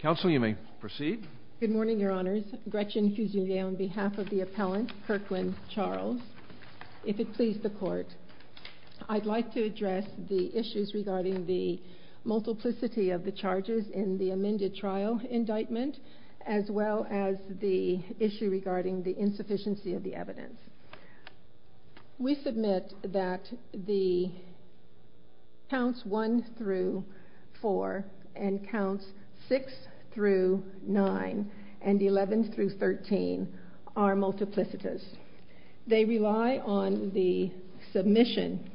If it please the court, I'd like to address the issues regarding the multiplicity of the charges in the amended trial indictment, as well as the issue regarding the insufficiency of the evidence. We submit that the counts 1 through 4 and counts 6 through 9 and 11 through 13 are multiplicities. They rely on the submission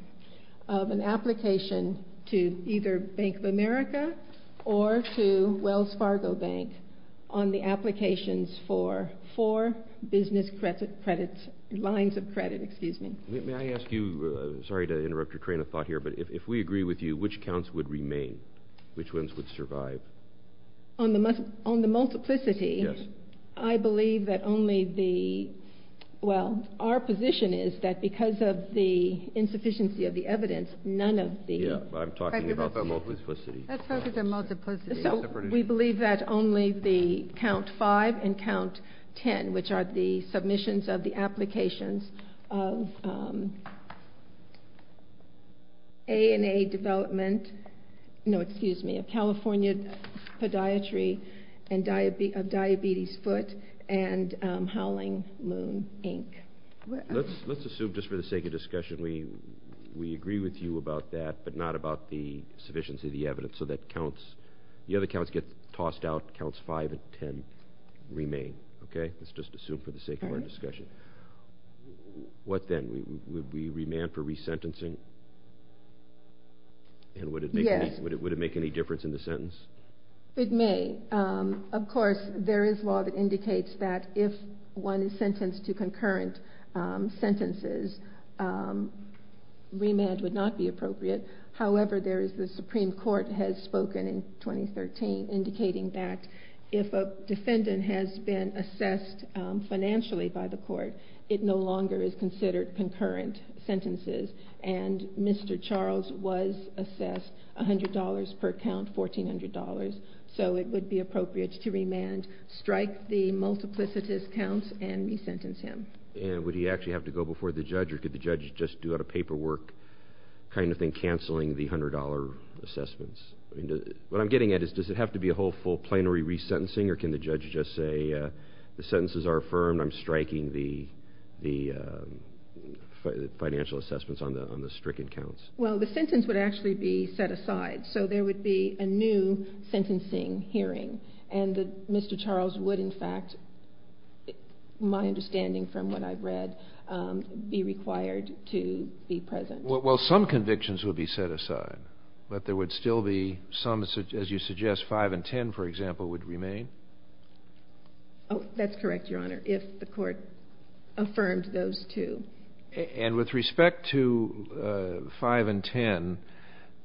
of an application to either Bank of America or to Wells Fargo Bank on the applications for four business lines of credit. May I ask you, sorry to interrupt your train of thought here, but if we agree with you, which counts would remain? Which ones would survive? On the multiplicity, I believe that only the, well, our position is that because of the insufficiency of the evidence, none of the. I'm talking about the multiplicity. Let's focus on multiplicity. So we believe that only the count 5 and count 10, which are the submissions of the applications of ANA development. No, excuse me, of California podiatry and diabetes, diabetes foot and howling moon, Inc. Let's, let's assume just for the sake of discussion, we, we agree with you about that, but not about the sufficiency of the evidence. So that counts, the other counts get tossed out, counts 5 and 10 remain. Okay. Let's just assume for the sake of our discussion. What then we, we, we remand for resentencing and would it, would it, would it make any difference in the sentence? It may. Of course, there is law that indicates that if one is sentenced to concurrent sentences, remand would not be appropriate. However, there is the Supreme Court has spoken in 2013, indicating that if a defendant has been assessed financially by the court, it no longer is considered concurrent sentences. And Mr. Charles was assessed a hundred dollars per count, $1,400. So it would be appropriate to remand, strike the multiplicities counts and resentence him. And would he actually have to go before the judge or could the judge just do out of paperwork kind of thing, canceling the hundred dollar assessments? I mean, what I'm getting at is, does it have to be a whole full plenary resentencing or can the judge just say the sentences are affirmed? I'm striking the, the financial assessments on the, on the stricken counts. Well, the sentence would actually be set aside. So there would be a new sentencing hearing. And Mr. Charles would in fact, my understanding from what I've read, be required to be present. Well, some convictions would be set aside, but there would still be some, as you suggest, five and 10, for example, would remain. Oh, that's correct, Your Honor. If the court affirmed those two. And with respect to five and 10,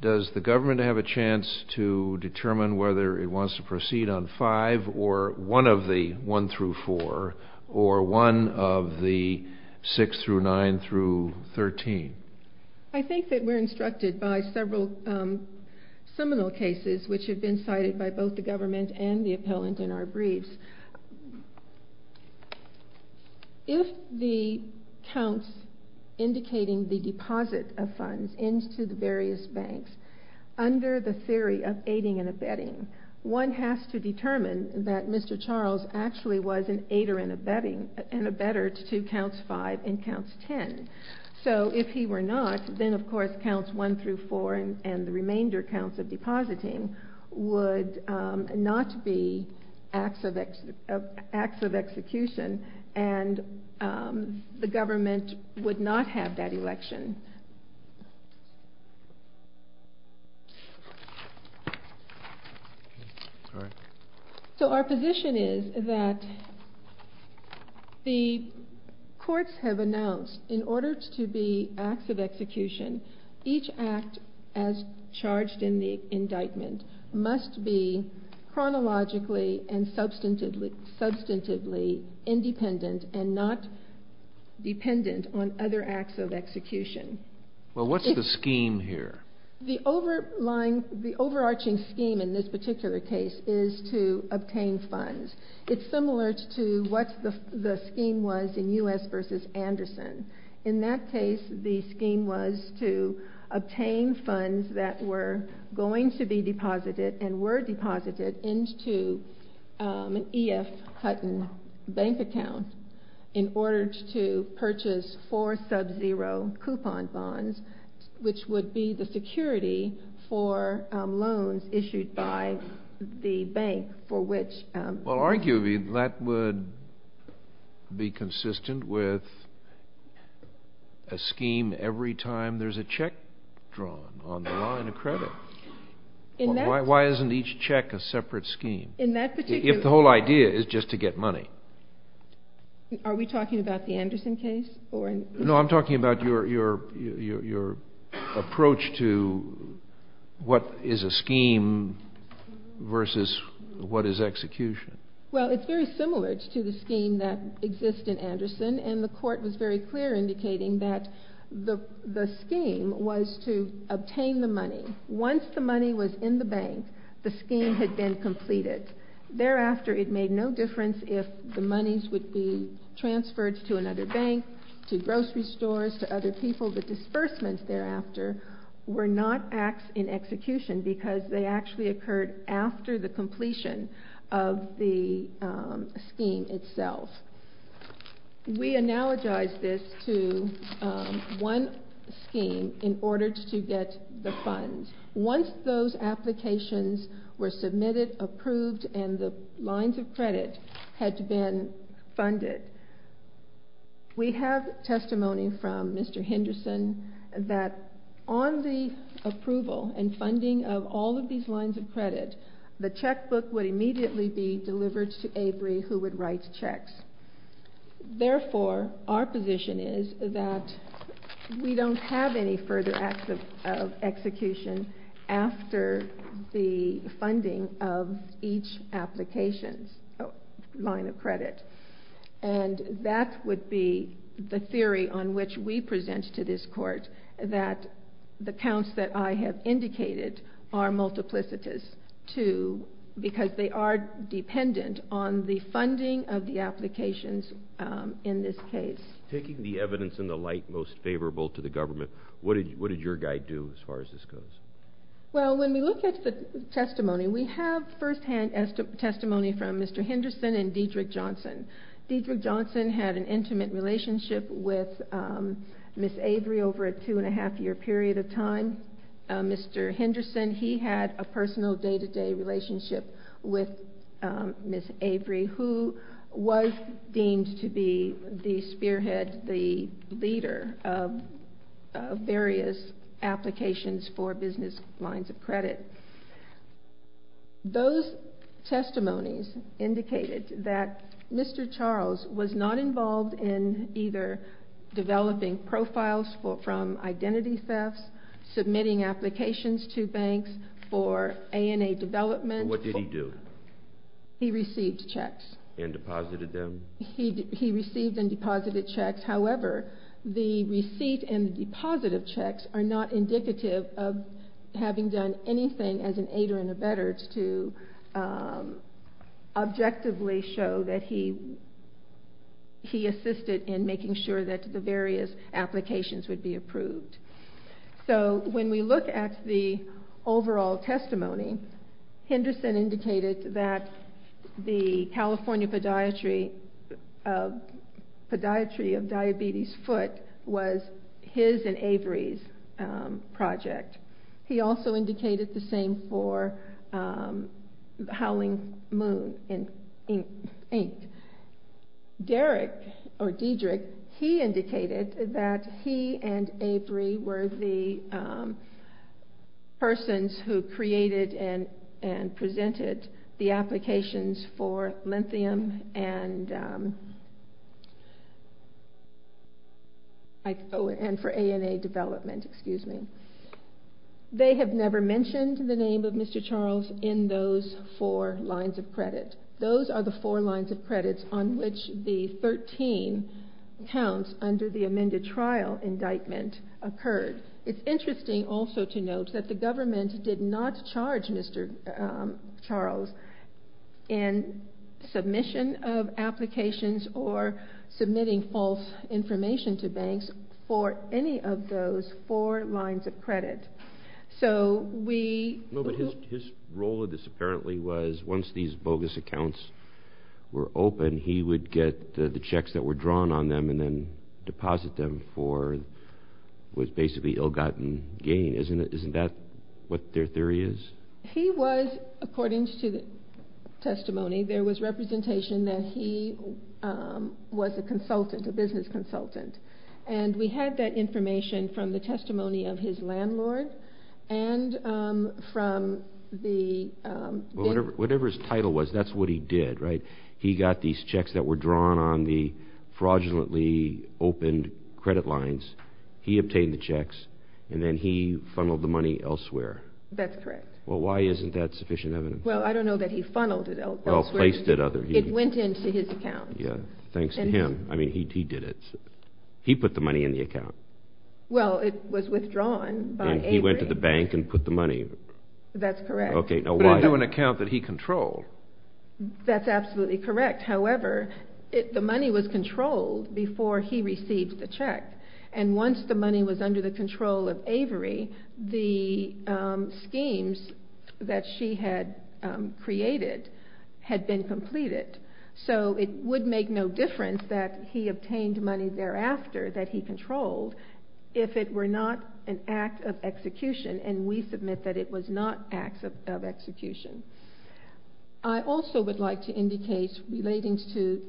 does the government have a chance to determine whether it wants to proceed on five or one of the one through four or one of the six through nine through 13? I think that we're instructed by several seminal cases, which have been cited by both the government and the appellant in our briefs. If the counts indicating the deposit of funds into the various banks, under the theory of aiding and abetting, one has to determine that Mr. Charles actually was an aider in abetting, an abetter to counts five and counts 10. So if he were not, then of course counts one through four and the remainder counts of depositing would not be acts of execution and the government would not have that election. So our position is that the courts have announced in order to be acts of execution, each act as charged in the indictment must be chronologically and substantively independent and not dependent on other acts of execution. Well, what's the scheme here? The overarching scheme in this particular case is to obtain funds. It's similar to what the scheme was in U.S. versus Anderson. In that case, the scheme was to obtain funds that were going to be deposited and were deposited into an E.F. Hutton bank account in order to purchase four sub-zero coupon bonds, which would be the security for loans issued by the bank for which— Well, arguably that would be consistent with a scheme every time there's a check drawn on the line of credit. Why isn't each check a separate scheme? In that particular— If the whole idea is just to get money. Are we talking about the Anderson case? No, I'm talking about your approach to what is a scheme versus what is execution. Well, it's very similar to the scheme that exists in Anderson, and the court was very clear indicating that the scheme was to obtain the money. Once the money was in the bank, the scheme had been completed. Thereafter, it made no difference if the monies would be transferred to another bank, to grocery stores, to other people. The disbursements thereafter were not acts in execution because they actually occurred after the completion of the scheme itself. We analogize this to one scheme in order to get the funds. Once those applications were submitted, approved, and the lines of credit had been funded, we have testimony from Mr. Henderson that on the approval and funding of all of these lines of credit, the checkbook would immediately be delivered to Avery, who would write checks. Therefore, our position is that we don't have any further acts of execution after the funding of each application's line of credit. That would be the theory on which we present to this court that the counts that I have indicated are multiplicitous because they are dependent on the funding of the applications in this case. Taking the evidence in the light most favorable to the government, what did your guide do as far as this goes? When we look at the testimony, we have firsthand testimony from Mr. Henderson and Dedrick Johnson. Dedrick Johnson had an intimate relationship with Ms. Avery over a two-and-a-half-year period of time. Mr. Henderson, he had a personal day-to-day relationship with Ms. Avery, who was deemed to be the spearhead, the leader of various applications for business lines of credit. Those testimonies indicated that Mr. Charles was not involved in either developing profiles from identity thefts, submitting applications to banks for ANA development. What did he do? He received checks. And deposited them? He received and deposited checks. However, the receipt and the deposit of checks are not indicative of having done anything as an aider and abetter to objectively show that he assisted in making sure that the various applications would be approved. So when we look at the overall testimony, Henderson indicated that the California Podiatry of Diabetes Foot was his and Avery's project. He also indicated the same for Howling Moon, Inc. Dedrick, he indicated that he and Avery were the persons who created and presented the applications for lithium and for ANA development. They have never mentioned the name of Mr. Charles in those four lines of credit. Those are the four lines of credits on which the 13 counts under the amended trial indictment occurred. It's interesting also to note that the government did not charge Mr. Charles in submission of applications or submitting false information to banks for any of those four lines of credit. No, but his role in this apparently was once these bogus accounts were open, he would get the checks that were drawn on them and then deposit them for what's basically ill-gotten gain. Isn't that what their theory is? He was, according to the testimony, there was representation that he was a consultant, a business consultant. And we had that information from the testimony of his landlord and from the... Whatever his title was, that's what he did, right? He got these checks that were drawn on the fraudulently opened credit lines, he obtained the checks, and then he funneled the money elsewhere. That's correct. Well, why isn't that sufficient evidence? Well, I don't know that he funneled it elsewhere. Well, placed it other... It went into his account. Yeah, thanks to him. I mean, he did it. He put the money in the account. Well, it was withdrawn by Avery. And he went to the bank and put the money... That's correct. Okay, now why... But into an account that he controlled. That's absolutely correct. However, the money was controlled before he received the check. And once the money was under the control of Avery, the schemes that she had created had been completed. So it would make no difference that he obtained money thereafter that he controlled if it were not an act of execution, and we submit that it was not an act of execution. I also would like to indicate, relating to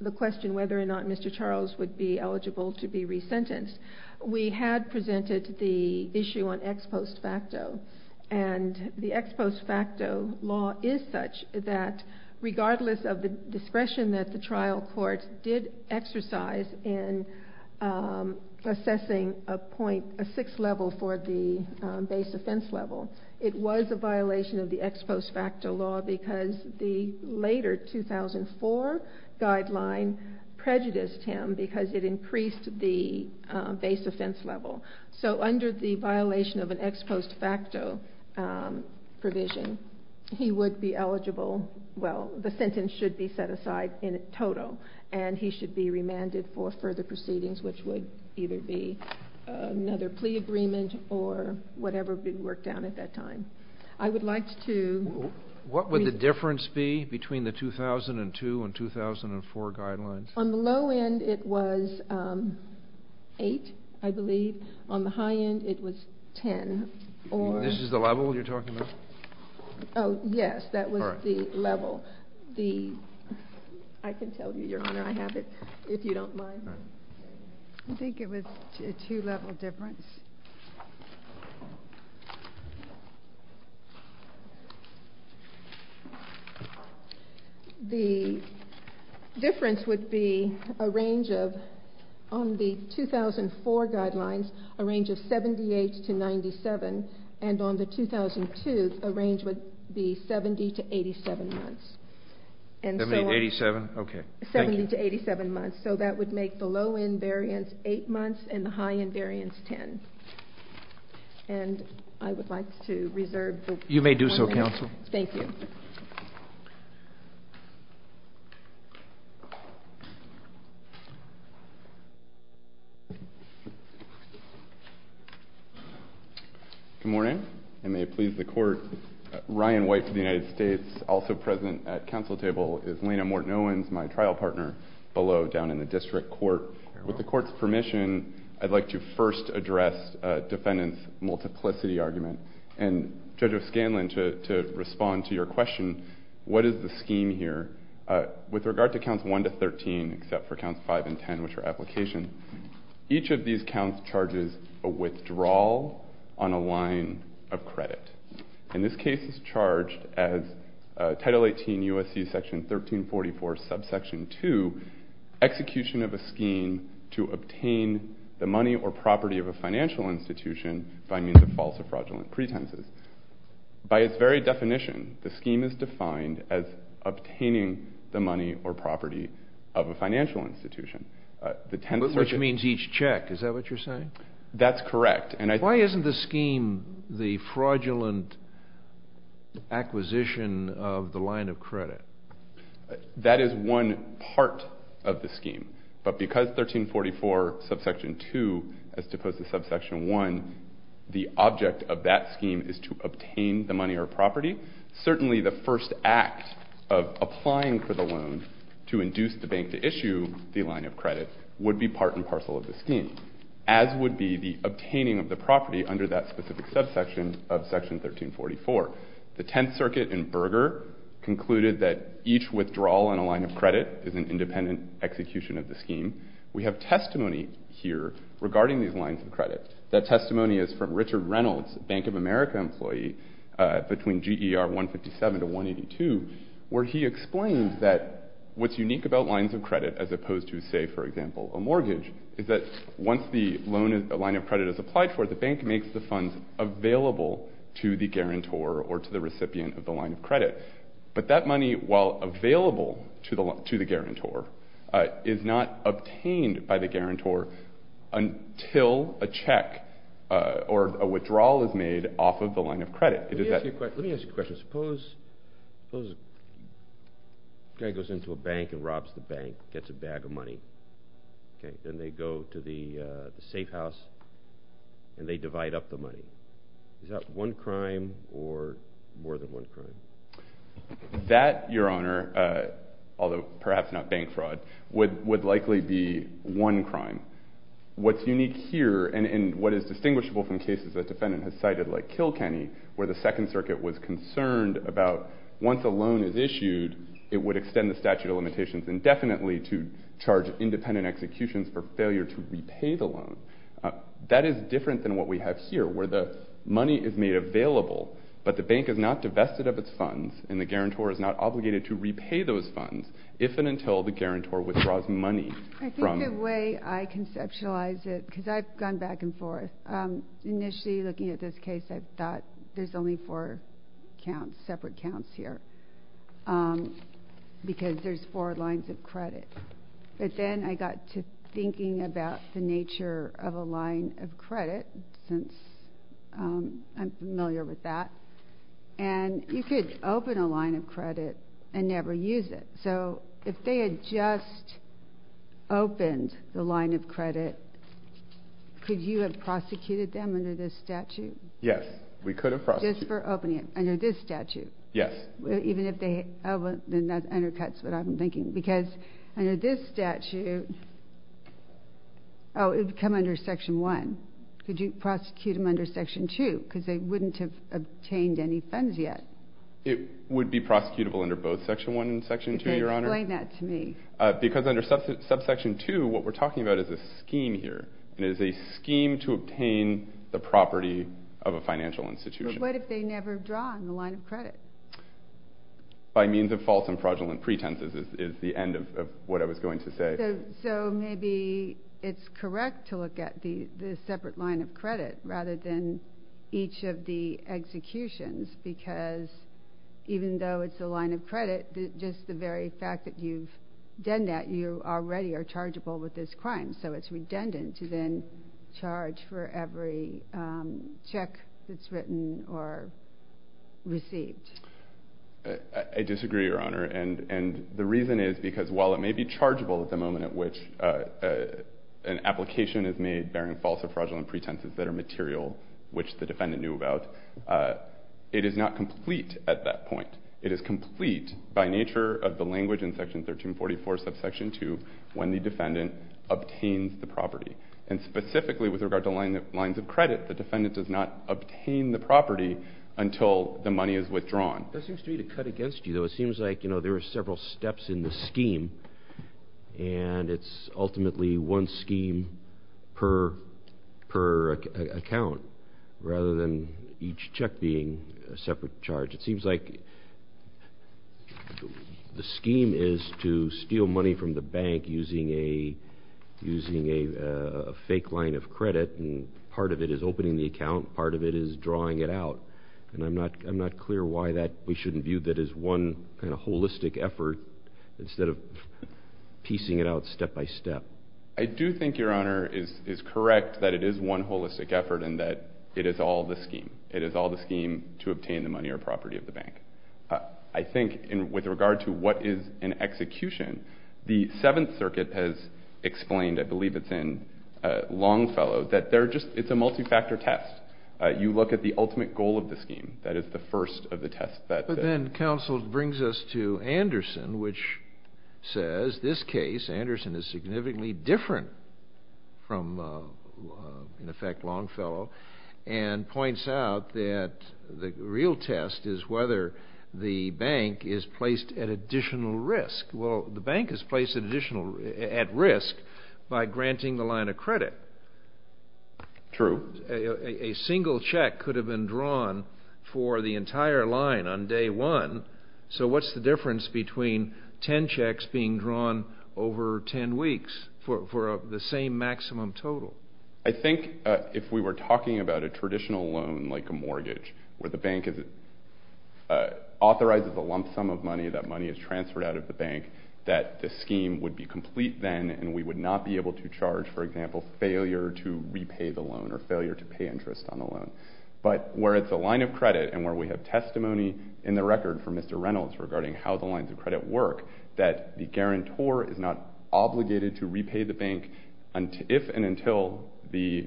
the question whether or not Mr. Charles would be eligible to be resentenced, we had presented the issue on ex post facto. And the ex post facto law is such that regardless of the discretion that the trial court did exercise in assessing a point, a sixth level for the base offense level, it was a violation of the ex post facto law because the later 2004 guideline prejudiced him because it increased the base offense level. So under the violation of an ex post facto provision, he would be eligible... Well, the sentence should be set aside in total, and he should be remanded for further proceedings, which would either be another plea agreement or whatever would be worked out at that time. I would like to... What would the difference be between the 2002 and 2004 guidelines? On the low end, it was 8, I believe. On the high end, it was 10. This is the level you're talking about? Oh, yes, that was the level. I can tell you, Your Honor, I have it, if you don't mind. I think it was a two-level difference. The difference would be a range of, on the 2004 guidelines, a range of 78 to 97, and on the 2002, a range would be 70 to 87 months. 70 to 87? 70 to 87 months. So that would make the low end variance 8 months and the high end variance 10. And I would like to reserve... You may do so, counsel. Thank you. Good morning. I may please the court. Ryan White from the United States, also present at council table, is Lena Morten Owens, my trial partner, below, down in the district court. With the court's permission, I'd like to first address defendant's multiplicity argument. And Judge O'Scanlan, to respond to your question, what is the scheme here? With regard to counts 1 to 13, except for counts 5 and 10, which are application, each of these counts charges a withdrawal on a line of credit. And this case is charged as Title 18 U.S.C. Section 1344, subsection 2, execution of a scheme to obtain the money or property of a financial institution by means of false or fraudulent pretenses. By its very definition, the scheme is defined as obtaining the money or property of a financial institution. Which means each check, is that what you're saying? That's correct. Why isn't the scheme the fraudulent acquisition of the line of credit? That is one part of the scheme. But because 1344, subsection 2, as opposed to subsection 1, the object of that scheme is to obtain the money or property, certainly the first act of applying for the loan to induce the bank to issue the line of credit would be part and parcel of the scheme. As would be the obtaining of the property under that specific subsection of Section 1344. The Tenth Circuit in Berger concluded that each withdrawal in a line of credit is an independent execution of the scheme. We have testimony here regarding these lines of credit. That testimony is from Richard Reynolds, Bank of America employee, between GER 157 to 182, where he explained that what's unique about lines of credit, as opposed to, say, for example, a mortgage, is that once the line of credit is applied for, the bank makes the funds available to the guarantor or to the recipient of the line of credit. But that money, while available to the guarantor, is not obtained by the guarantor until a check or a withdrawal is made off of the line of credit. Let me ask you a question. Suppose a guy goes into a bank and robs the bank, gets a bag of money, and they go to the safe house and they divide up the money. Is that one crime or more than one crime? That, Your Honor, although perhaps not bank fraud, would likely be one crime. What's unique here, and what is distinguishable from cases that the defendant has cited, like Kilkenny, where the Second Circuit was concerned about once a loan is issued, it would extend the statute of limitations indefinitely to charge independent executions for failure to repay the loan. That is different than what we have here, where the money is made available, but the bank is not divested of its funds, and the guarantor is not obligated to repay those funds if and until the guarantor withdraws money. I think the way I conceptualize it, because I've gone back and forth, initially looking at this case, I thought there's only four separate counts here, because there's four lines of credit. But then I got to thinking about the nature of a line of credit, since I'm familiar with that, and you could open a line of credit and never use it. So if they had just opened the line of credit, could you have prosecuted them under this statute? Yes, we could have prosecuted them. Just for opening it, under this statute? Yes. Then that undercuts what I'm thinking, because under this statute, oh, it would come under Section 1. Could you prosecute them under Section 2, because they wouldn't have obtained any funds yet? It would be prosecutable under both Section 1 and Section 2, Your Honor. Explain that to me. Because under Subsection 2, what we're talking about is a scheme here, and it is a scheme to obtain the property of a financial institution. But what if they never draw on the line of credit? By means of false and fraudulent pretenses is the end of what I was going to say. So maybe it's correct to look at the separate line of credit rather than each of the executions, because even though it's a line of credit, just the very fact that you've done that, you already are chargeable with this crime. So it's redundant to then charge for every check that's written or received. I disagree, Your Honor. And the reason is because while it may be chargeable at the moment at which an application is made bearing false or fraudulent pretenses that are material, which the defendant knew about, it is not complete at that point. It is complete by nature of the language in Section 1344, Subsection 2, when the defendant obtains the property. And specifically with regard to lines of credit, the defendant does not obtain the property until the money is withdrawn. That seems to me to cut against you, though. It seems like there are several steps in the scheme, and it's ultimately one scheme per account rather than each check being a separate charge. It seems like the scheme is to steal money from the bank using a fake line of credit, and part of it is opening the account, part of it is drawing it out. And I'm not clear why we shouldn't view that as one kind of holistic effort instead of piecing it out step by step. I do think, Your Honor, it is correct that it is one holistic effort and that it is all the scheme. It is all the scheme to obtain the money or property of the bank. I think with regard to what is an execution, the Seventh Circuit has explained, I believe it's in Longfellow, that it's a multi-factor test. You look at the ultimate goal of the scheme. That is the first of the tests. But then counsel brings us to Anderson, which says this case, Anderson is significantly different from, in effect, Longfellow, and points out that the real test is whether the bank is placed at additional risk. Well, the bank is placed at risk by granting the line of credit. True. A single check could have been drawn for the entire line on day one. So what's the difference between ten checks being drawn over ten weeks for the same maximum total? I think if we were talking about a traditional loan like a mortgage where the bank authorizes a lump sum of money, that money is transferred out of the bank, that the scheme would be complete then and we would not be able to charge, for example, failure to repay the loan or failure to pay interest on the loan. But where it's a line of credit and where we have testimony in the record from Mr. Reynolds regarding how the lines of credit work, that the guarantor is not obligated to repay the bank if and until the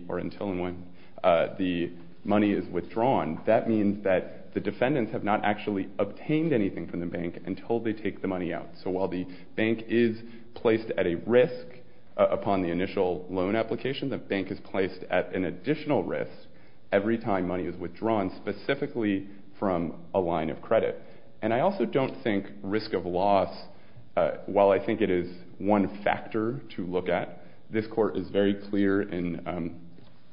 money is withdrawn. That means that the defendants have not actually obtained anything from the bank until they take the money out. So while the bank is placed at a risk upon the initial loan application, the bank is placed at an additional risk every time money is withdrawn specifically from a line of credit. And I also don't think risk of loss, while I think it is one factor to look at, this court is very clear in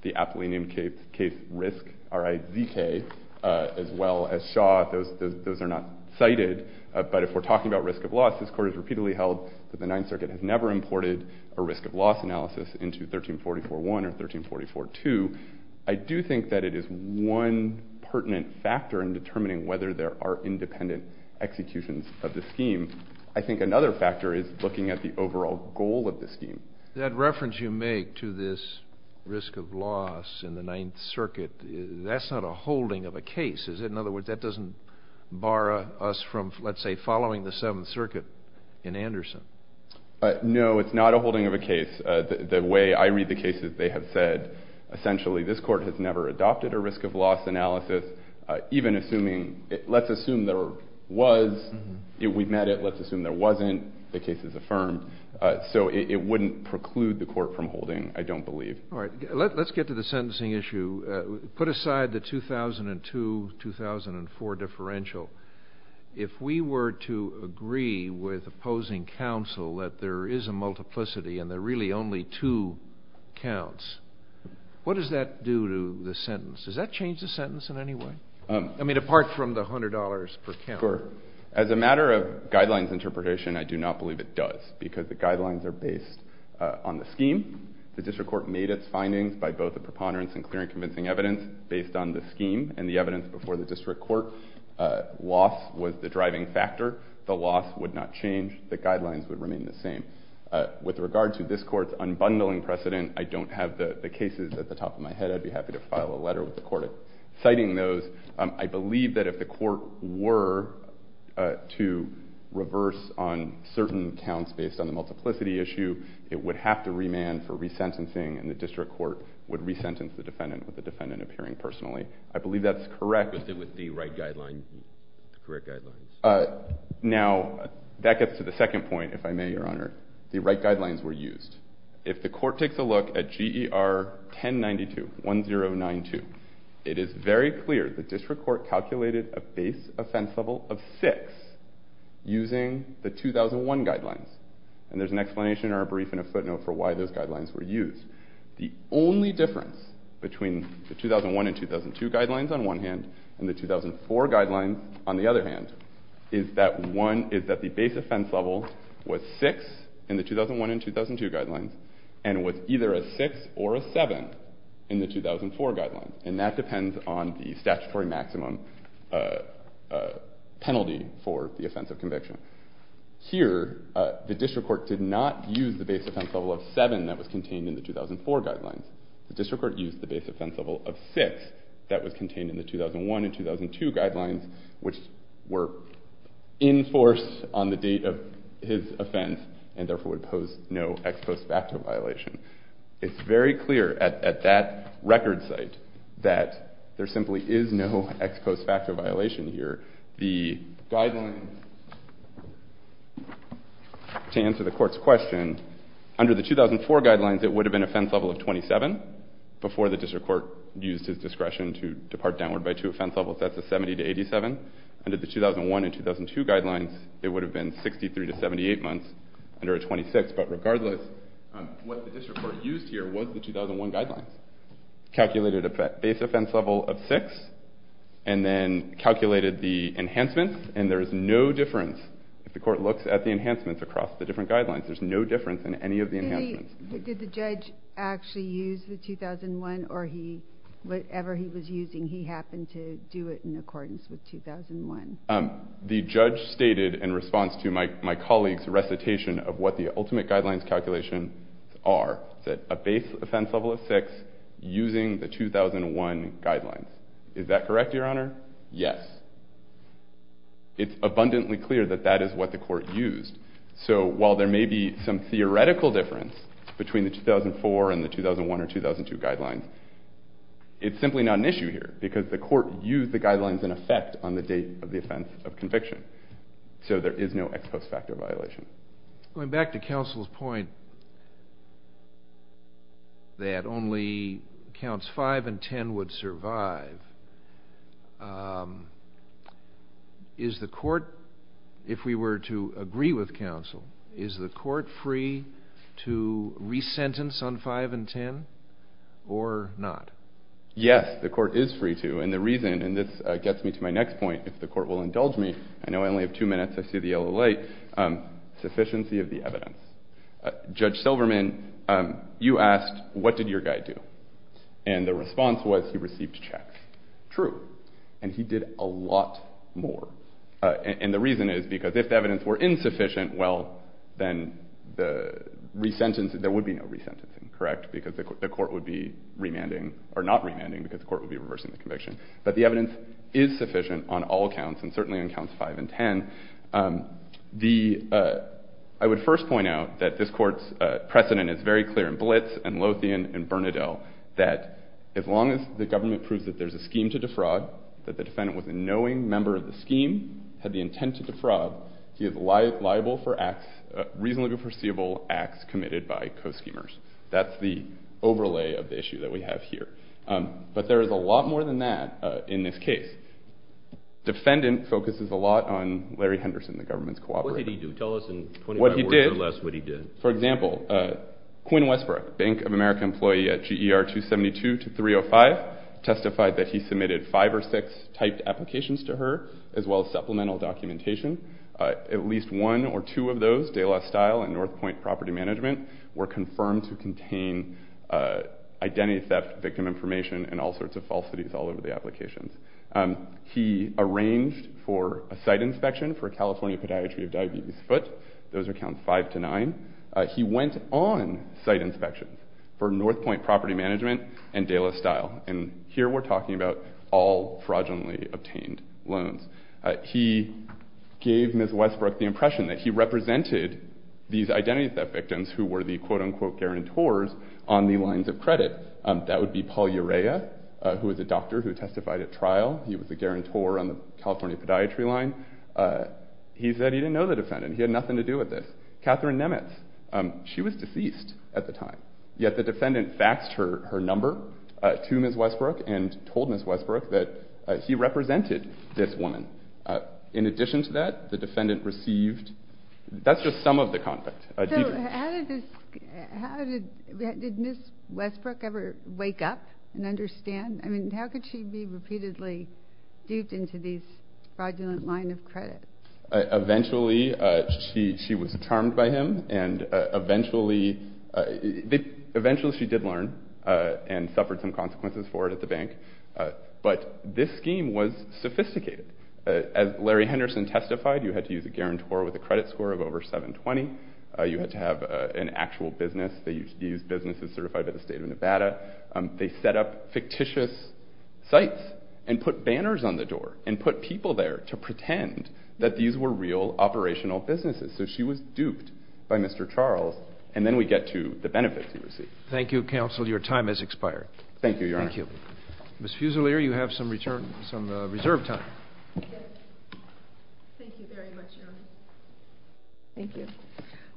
the Appellee Name Case Risk, R-I-Z-K, as well as Shaw. Those are not cited. But if we're talking about risk of loss, this court has repeatedly held that the Ninth Circuit has never imported a risk of loss analysis into 1344-1 or 1344-2. I do think that it is one pertinent factor in determining whether there are independent executions of the scheme. I think another factor is looking at the overall goal of the scheme. That reference you make to this risk of loss in the Ninth Circuit, that's not a holding of a case, is it? In other words, that doesn't bar us from, let's say, following the Seventh Circuit in Anderson. No, it's not a holding of a case. The way I read the cases, they have said, essentially, this court has never adopted a risk of loss analysis, even assuming, let's assume there was, we've met it, let's assume there wasn't, the case is affirmed. So it wouldn't preclude the court from holding, I don't believe. All right, let's get to the sentencing issue. To put aside the 2002-2004 differential, if we were to agree with opposing counsel that there is a multiplicity and there are really only two counts, what does that do to the sentence? Does that change the sentence in any way? I mean, apart from the $100 per count. Sure. As a matter of guidelines interpretation, I do not believe it does because the guidelines are based on the scheme. The district court made its findings by both the preponderance and clear and convincing evidence based on the scheme and the evidence before the district court. Loss was the driving factor. The loss would not change. The guidelines would remain the same. With regard to this court's unbundling precedent, I don't have the cases at the top of my head. I'd be happy to file a letter with the court citing those. I believe that if the court were to reverse on certain counts based on the multiplicity issue, it would have to remand for resentencing and the district court would resentence the defendant with the defendant appearing personally. I believe that's correct. With the right guidelines. Now, that gets to the second point, if I may, Your Honor. The right guidelines were used. If the court takes a look at GER 1092, 1092, it is very clear the district court calculated a base offense level of 6 using the 2001 guidelines. And there's an explanation or a brief and a footnote for why those guidelines were used. The only difference between the 2001 and 2002 guidelines on one hand and the 2004 guidelines on the other hand is that the base offense level was 6 in the 2001 and 2002 guidelines and was either a 6 or a 7 in the 2004 guidelines. And that depends on the statutory maximum penalty for the offense of conviction. Here, the district court did not use the base offense level of 7 that was contained in the 2004 guidelines. The district court used the base offense level of 6 that was contained in the 2001 and 2002 guidelines which were enforced on the date of his offense and therefore would pose no ex post facto violation. It's very clear at that record site that there simply is no ex post facto violation here. The guidelines, to answer the court's question, under the 2004 guidelines it would have been an offense level of 27 before the district court used his discretion to depart downward by two offense levels. That's a 70 to 87. Under the 2001 and 2002 guidelines, it would have been 63 to 78 months under a 26. But regardless, what the district court used here was the 2001 guidelines. Calculated a base offense level of 6 and then calculated the enhancements and there is no difference if the court looks at the enhancements across the different guidelines. There's no difference in any of the enhancements. Did the judge actually use the 2001 or whatever he was using he happened to do it in accordance with 2001? The judge stated in response to my colleague's recitation of what the ultimate guidelines calculation are, that a base offense level of 6 using the 2001 guidelines. Is that correct, Your Honor? Yes. It's abundantly clear that that is what the court used. So while there may be some theoretical difference between the 2004 and the 2001 or 2002 guidelines, it's simply not an issue here because the court used the guidelines in effect on the date of the offense of conviction. So there is no ex post facto violation. Going back to counsel's point that only counts 5 and 10 would survive, is the court, if we were to agree with counsel, is the court free to re-sentence on 5 and 10 or not? Yes, the court is free to. And the reason, and this gets me to my next point, if the court will indulge me, I know I only have 2 minutes, I see the yellow light, sufficiency of the evidence. Judge Silverman, you asked what did your guy do? And the response was he received checks. True. And he did a lot more. And the reason is because if the evidence were insufficient, well, then there would be no re-sentencing, correct? Because the court would be remanding, or not remanding because the court would be reversing the conviction. But the evidence is sufficient on all counts, and certainly on counts 5 and 10. I would first point out that this court's precedent is very clear in Blitz and Lothian and Bernadelle, that as long as the government proves that there's a scheme to defraud, that the defendant was a knowing member of the scheme, had the intent to defraud, he is liable for acts, reasonably perceivable acts committed by co-schemers. That's the overlay of the issue that we have here. But there is a lot more than that in this case. Defendant focuses a lot on Larry Henderson, the government's cooperator. What did he do? Tell us in 25 words or less what he did. For example, Quinn Westbrook, Bank of America employee at GER 272 to 305, testified that he submitted five or six typed applications to her, as well as supplemental documentation. At least one or two of those, De La Style and North Point Property Management, were confirmed to contain identity theft victim information and all sorts of falsities all over the applications. He arranged for a site inspection for California Podiatry of Diabetes Foot. Those are counts five to nine. He went on site inspection for North Point Property Management and De La Style. And here we're talking about all fraudulently obtained loans. He gave Ms. Westbrook the impression that he represented these identity theft victims who were the quote-unquote guarantors on the lines of credit. That would be Paul Urea, who was a doctor who testified at trial. He was a guarantor on the California Podiatry line. He said he didn't know the defendant. He had nothing to do with this. Catherine Nemeth, she was deceased at the time. Yet the defendant faxed her number to Ms. Westbrook and told Ms. Westbrook that he represented this woman. In addition to that, the defendant received... That's just some of the content. So how did Ms. Westbrook ever wake up and understand? I mean, how could she be repeatedly duped into these fraudulent lines of credit? Eventually she was charmed by him, and eventually she did learn and suffered some consequences for it at the bank. But this scheme was sophisticated. As Larry Henderson testified, you had to use a guarantor with a credit score of over 720. You had to have an actual business. These businesses certified by the state of Nevada. They set up fictitious sites and put banners on the door and put people there to pretend that these were real operational businesses. So she was duped by Mr. Charles, and then we get to the benefits he received. Thank you, counsel. Your time has expired. Thank you, Your Honor. Ms. Fusilier, you have some reserve time. Thank you very much, Your Honor. Thank you.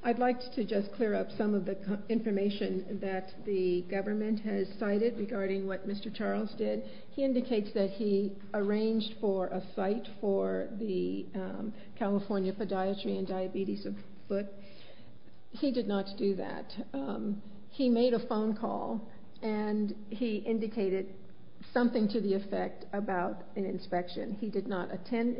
I'd like to just clear up some of the information that the government has cited regarding what Mr. Charles did. He indicates that he arranged for a site for the California Podiatry and Diabetes book. He did not do that. He made a phone call, and he indicated something to the effect about an inspection. He did not attend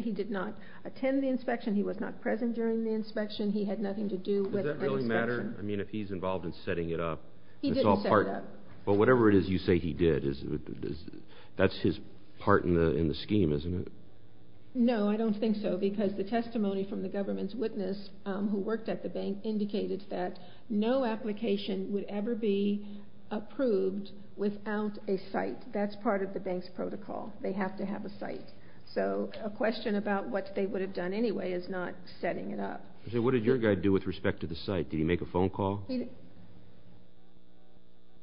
the inspection. He was not present during the inspection. He had nothing to do with the inspection. Does that really matter? I mean, if he's involved in setting it up, it's all part... He didn't set it up. But whatever it is you say he did, that's his part in the scheme, isn't it? No, I don't think so, because the testimony from the government's witness who worked at the bank indicated that no application would ever be approved without a site. That's part of the bank's protocol. They have to have a site. So a question about what they would have done anyway is not setting it up. So what did your guy do with respect to the site? Did he make a phone call?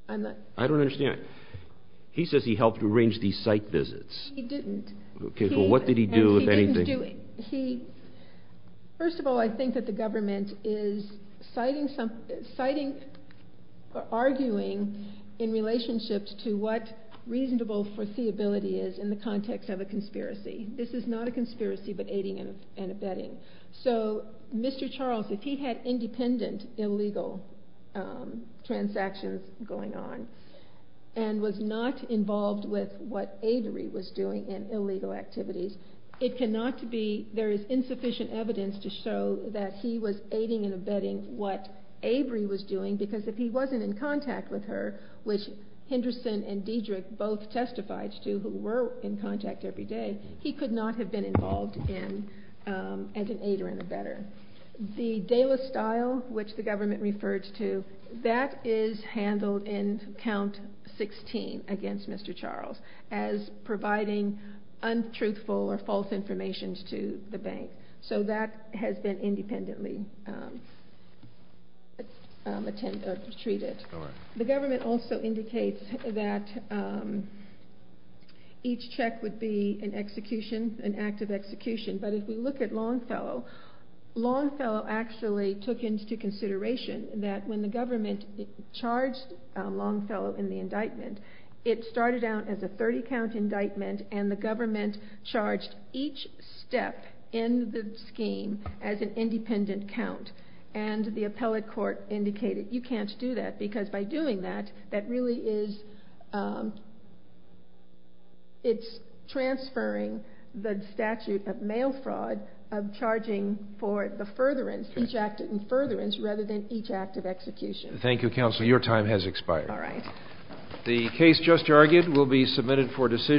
I'm not... I don't understand. He says he helped arrange these site visits. He didn't. Okay, well, what did he do, if anything? He didn't do... First of all, I think that the government is citing something, in the context of a conspiracy. This is not a conspiracy, but aiding and abetting. So Mr. Charles, if he had independent illegal transactions going on and was not involved with what Avery was doing in illegal activities, it cannot be... There is insufficient evidence to show that he was aiding and abetting what Avery was doing, because if he wasn't in contact with her, which Henderson and Dedrick both testified to, who were in contact every day, he could not have been involved as an aider and abetter. The DALA style, which the government refers to, that is handled in Count 16 against Mr. Charles as providing untruthful or false information to the bank. So that has been independently treated. The government also indicates that each check would be an execution, an act of execution. But if we look at Longfellow, Longfellow actually took into consideration that when the government charged Longfellow in the indictment, it started out as a 30-count indictment and the government charged each step in the scheme as an independent count. And the appellate court indicated, you can't do that, because by doing that, that really is transferring the statute of mail fraud of charging for the furtherance, each act in furtherance, rather than each act of execution. Thank you, Counsel. Your time has expired. All right. The case just argued will be submitted for decision.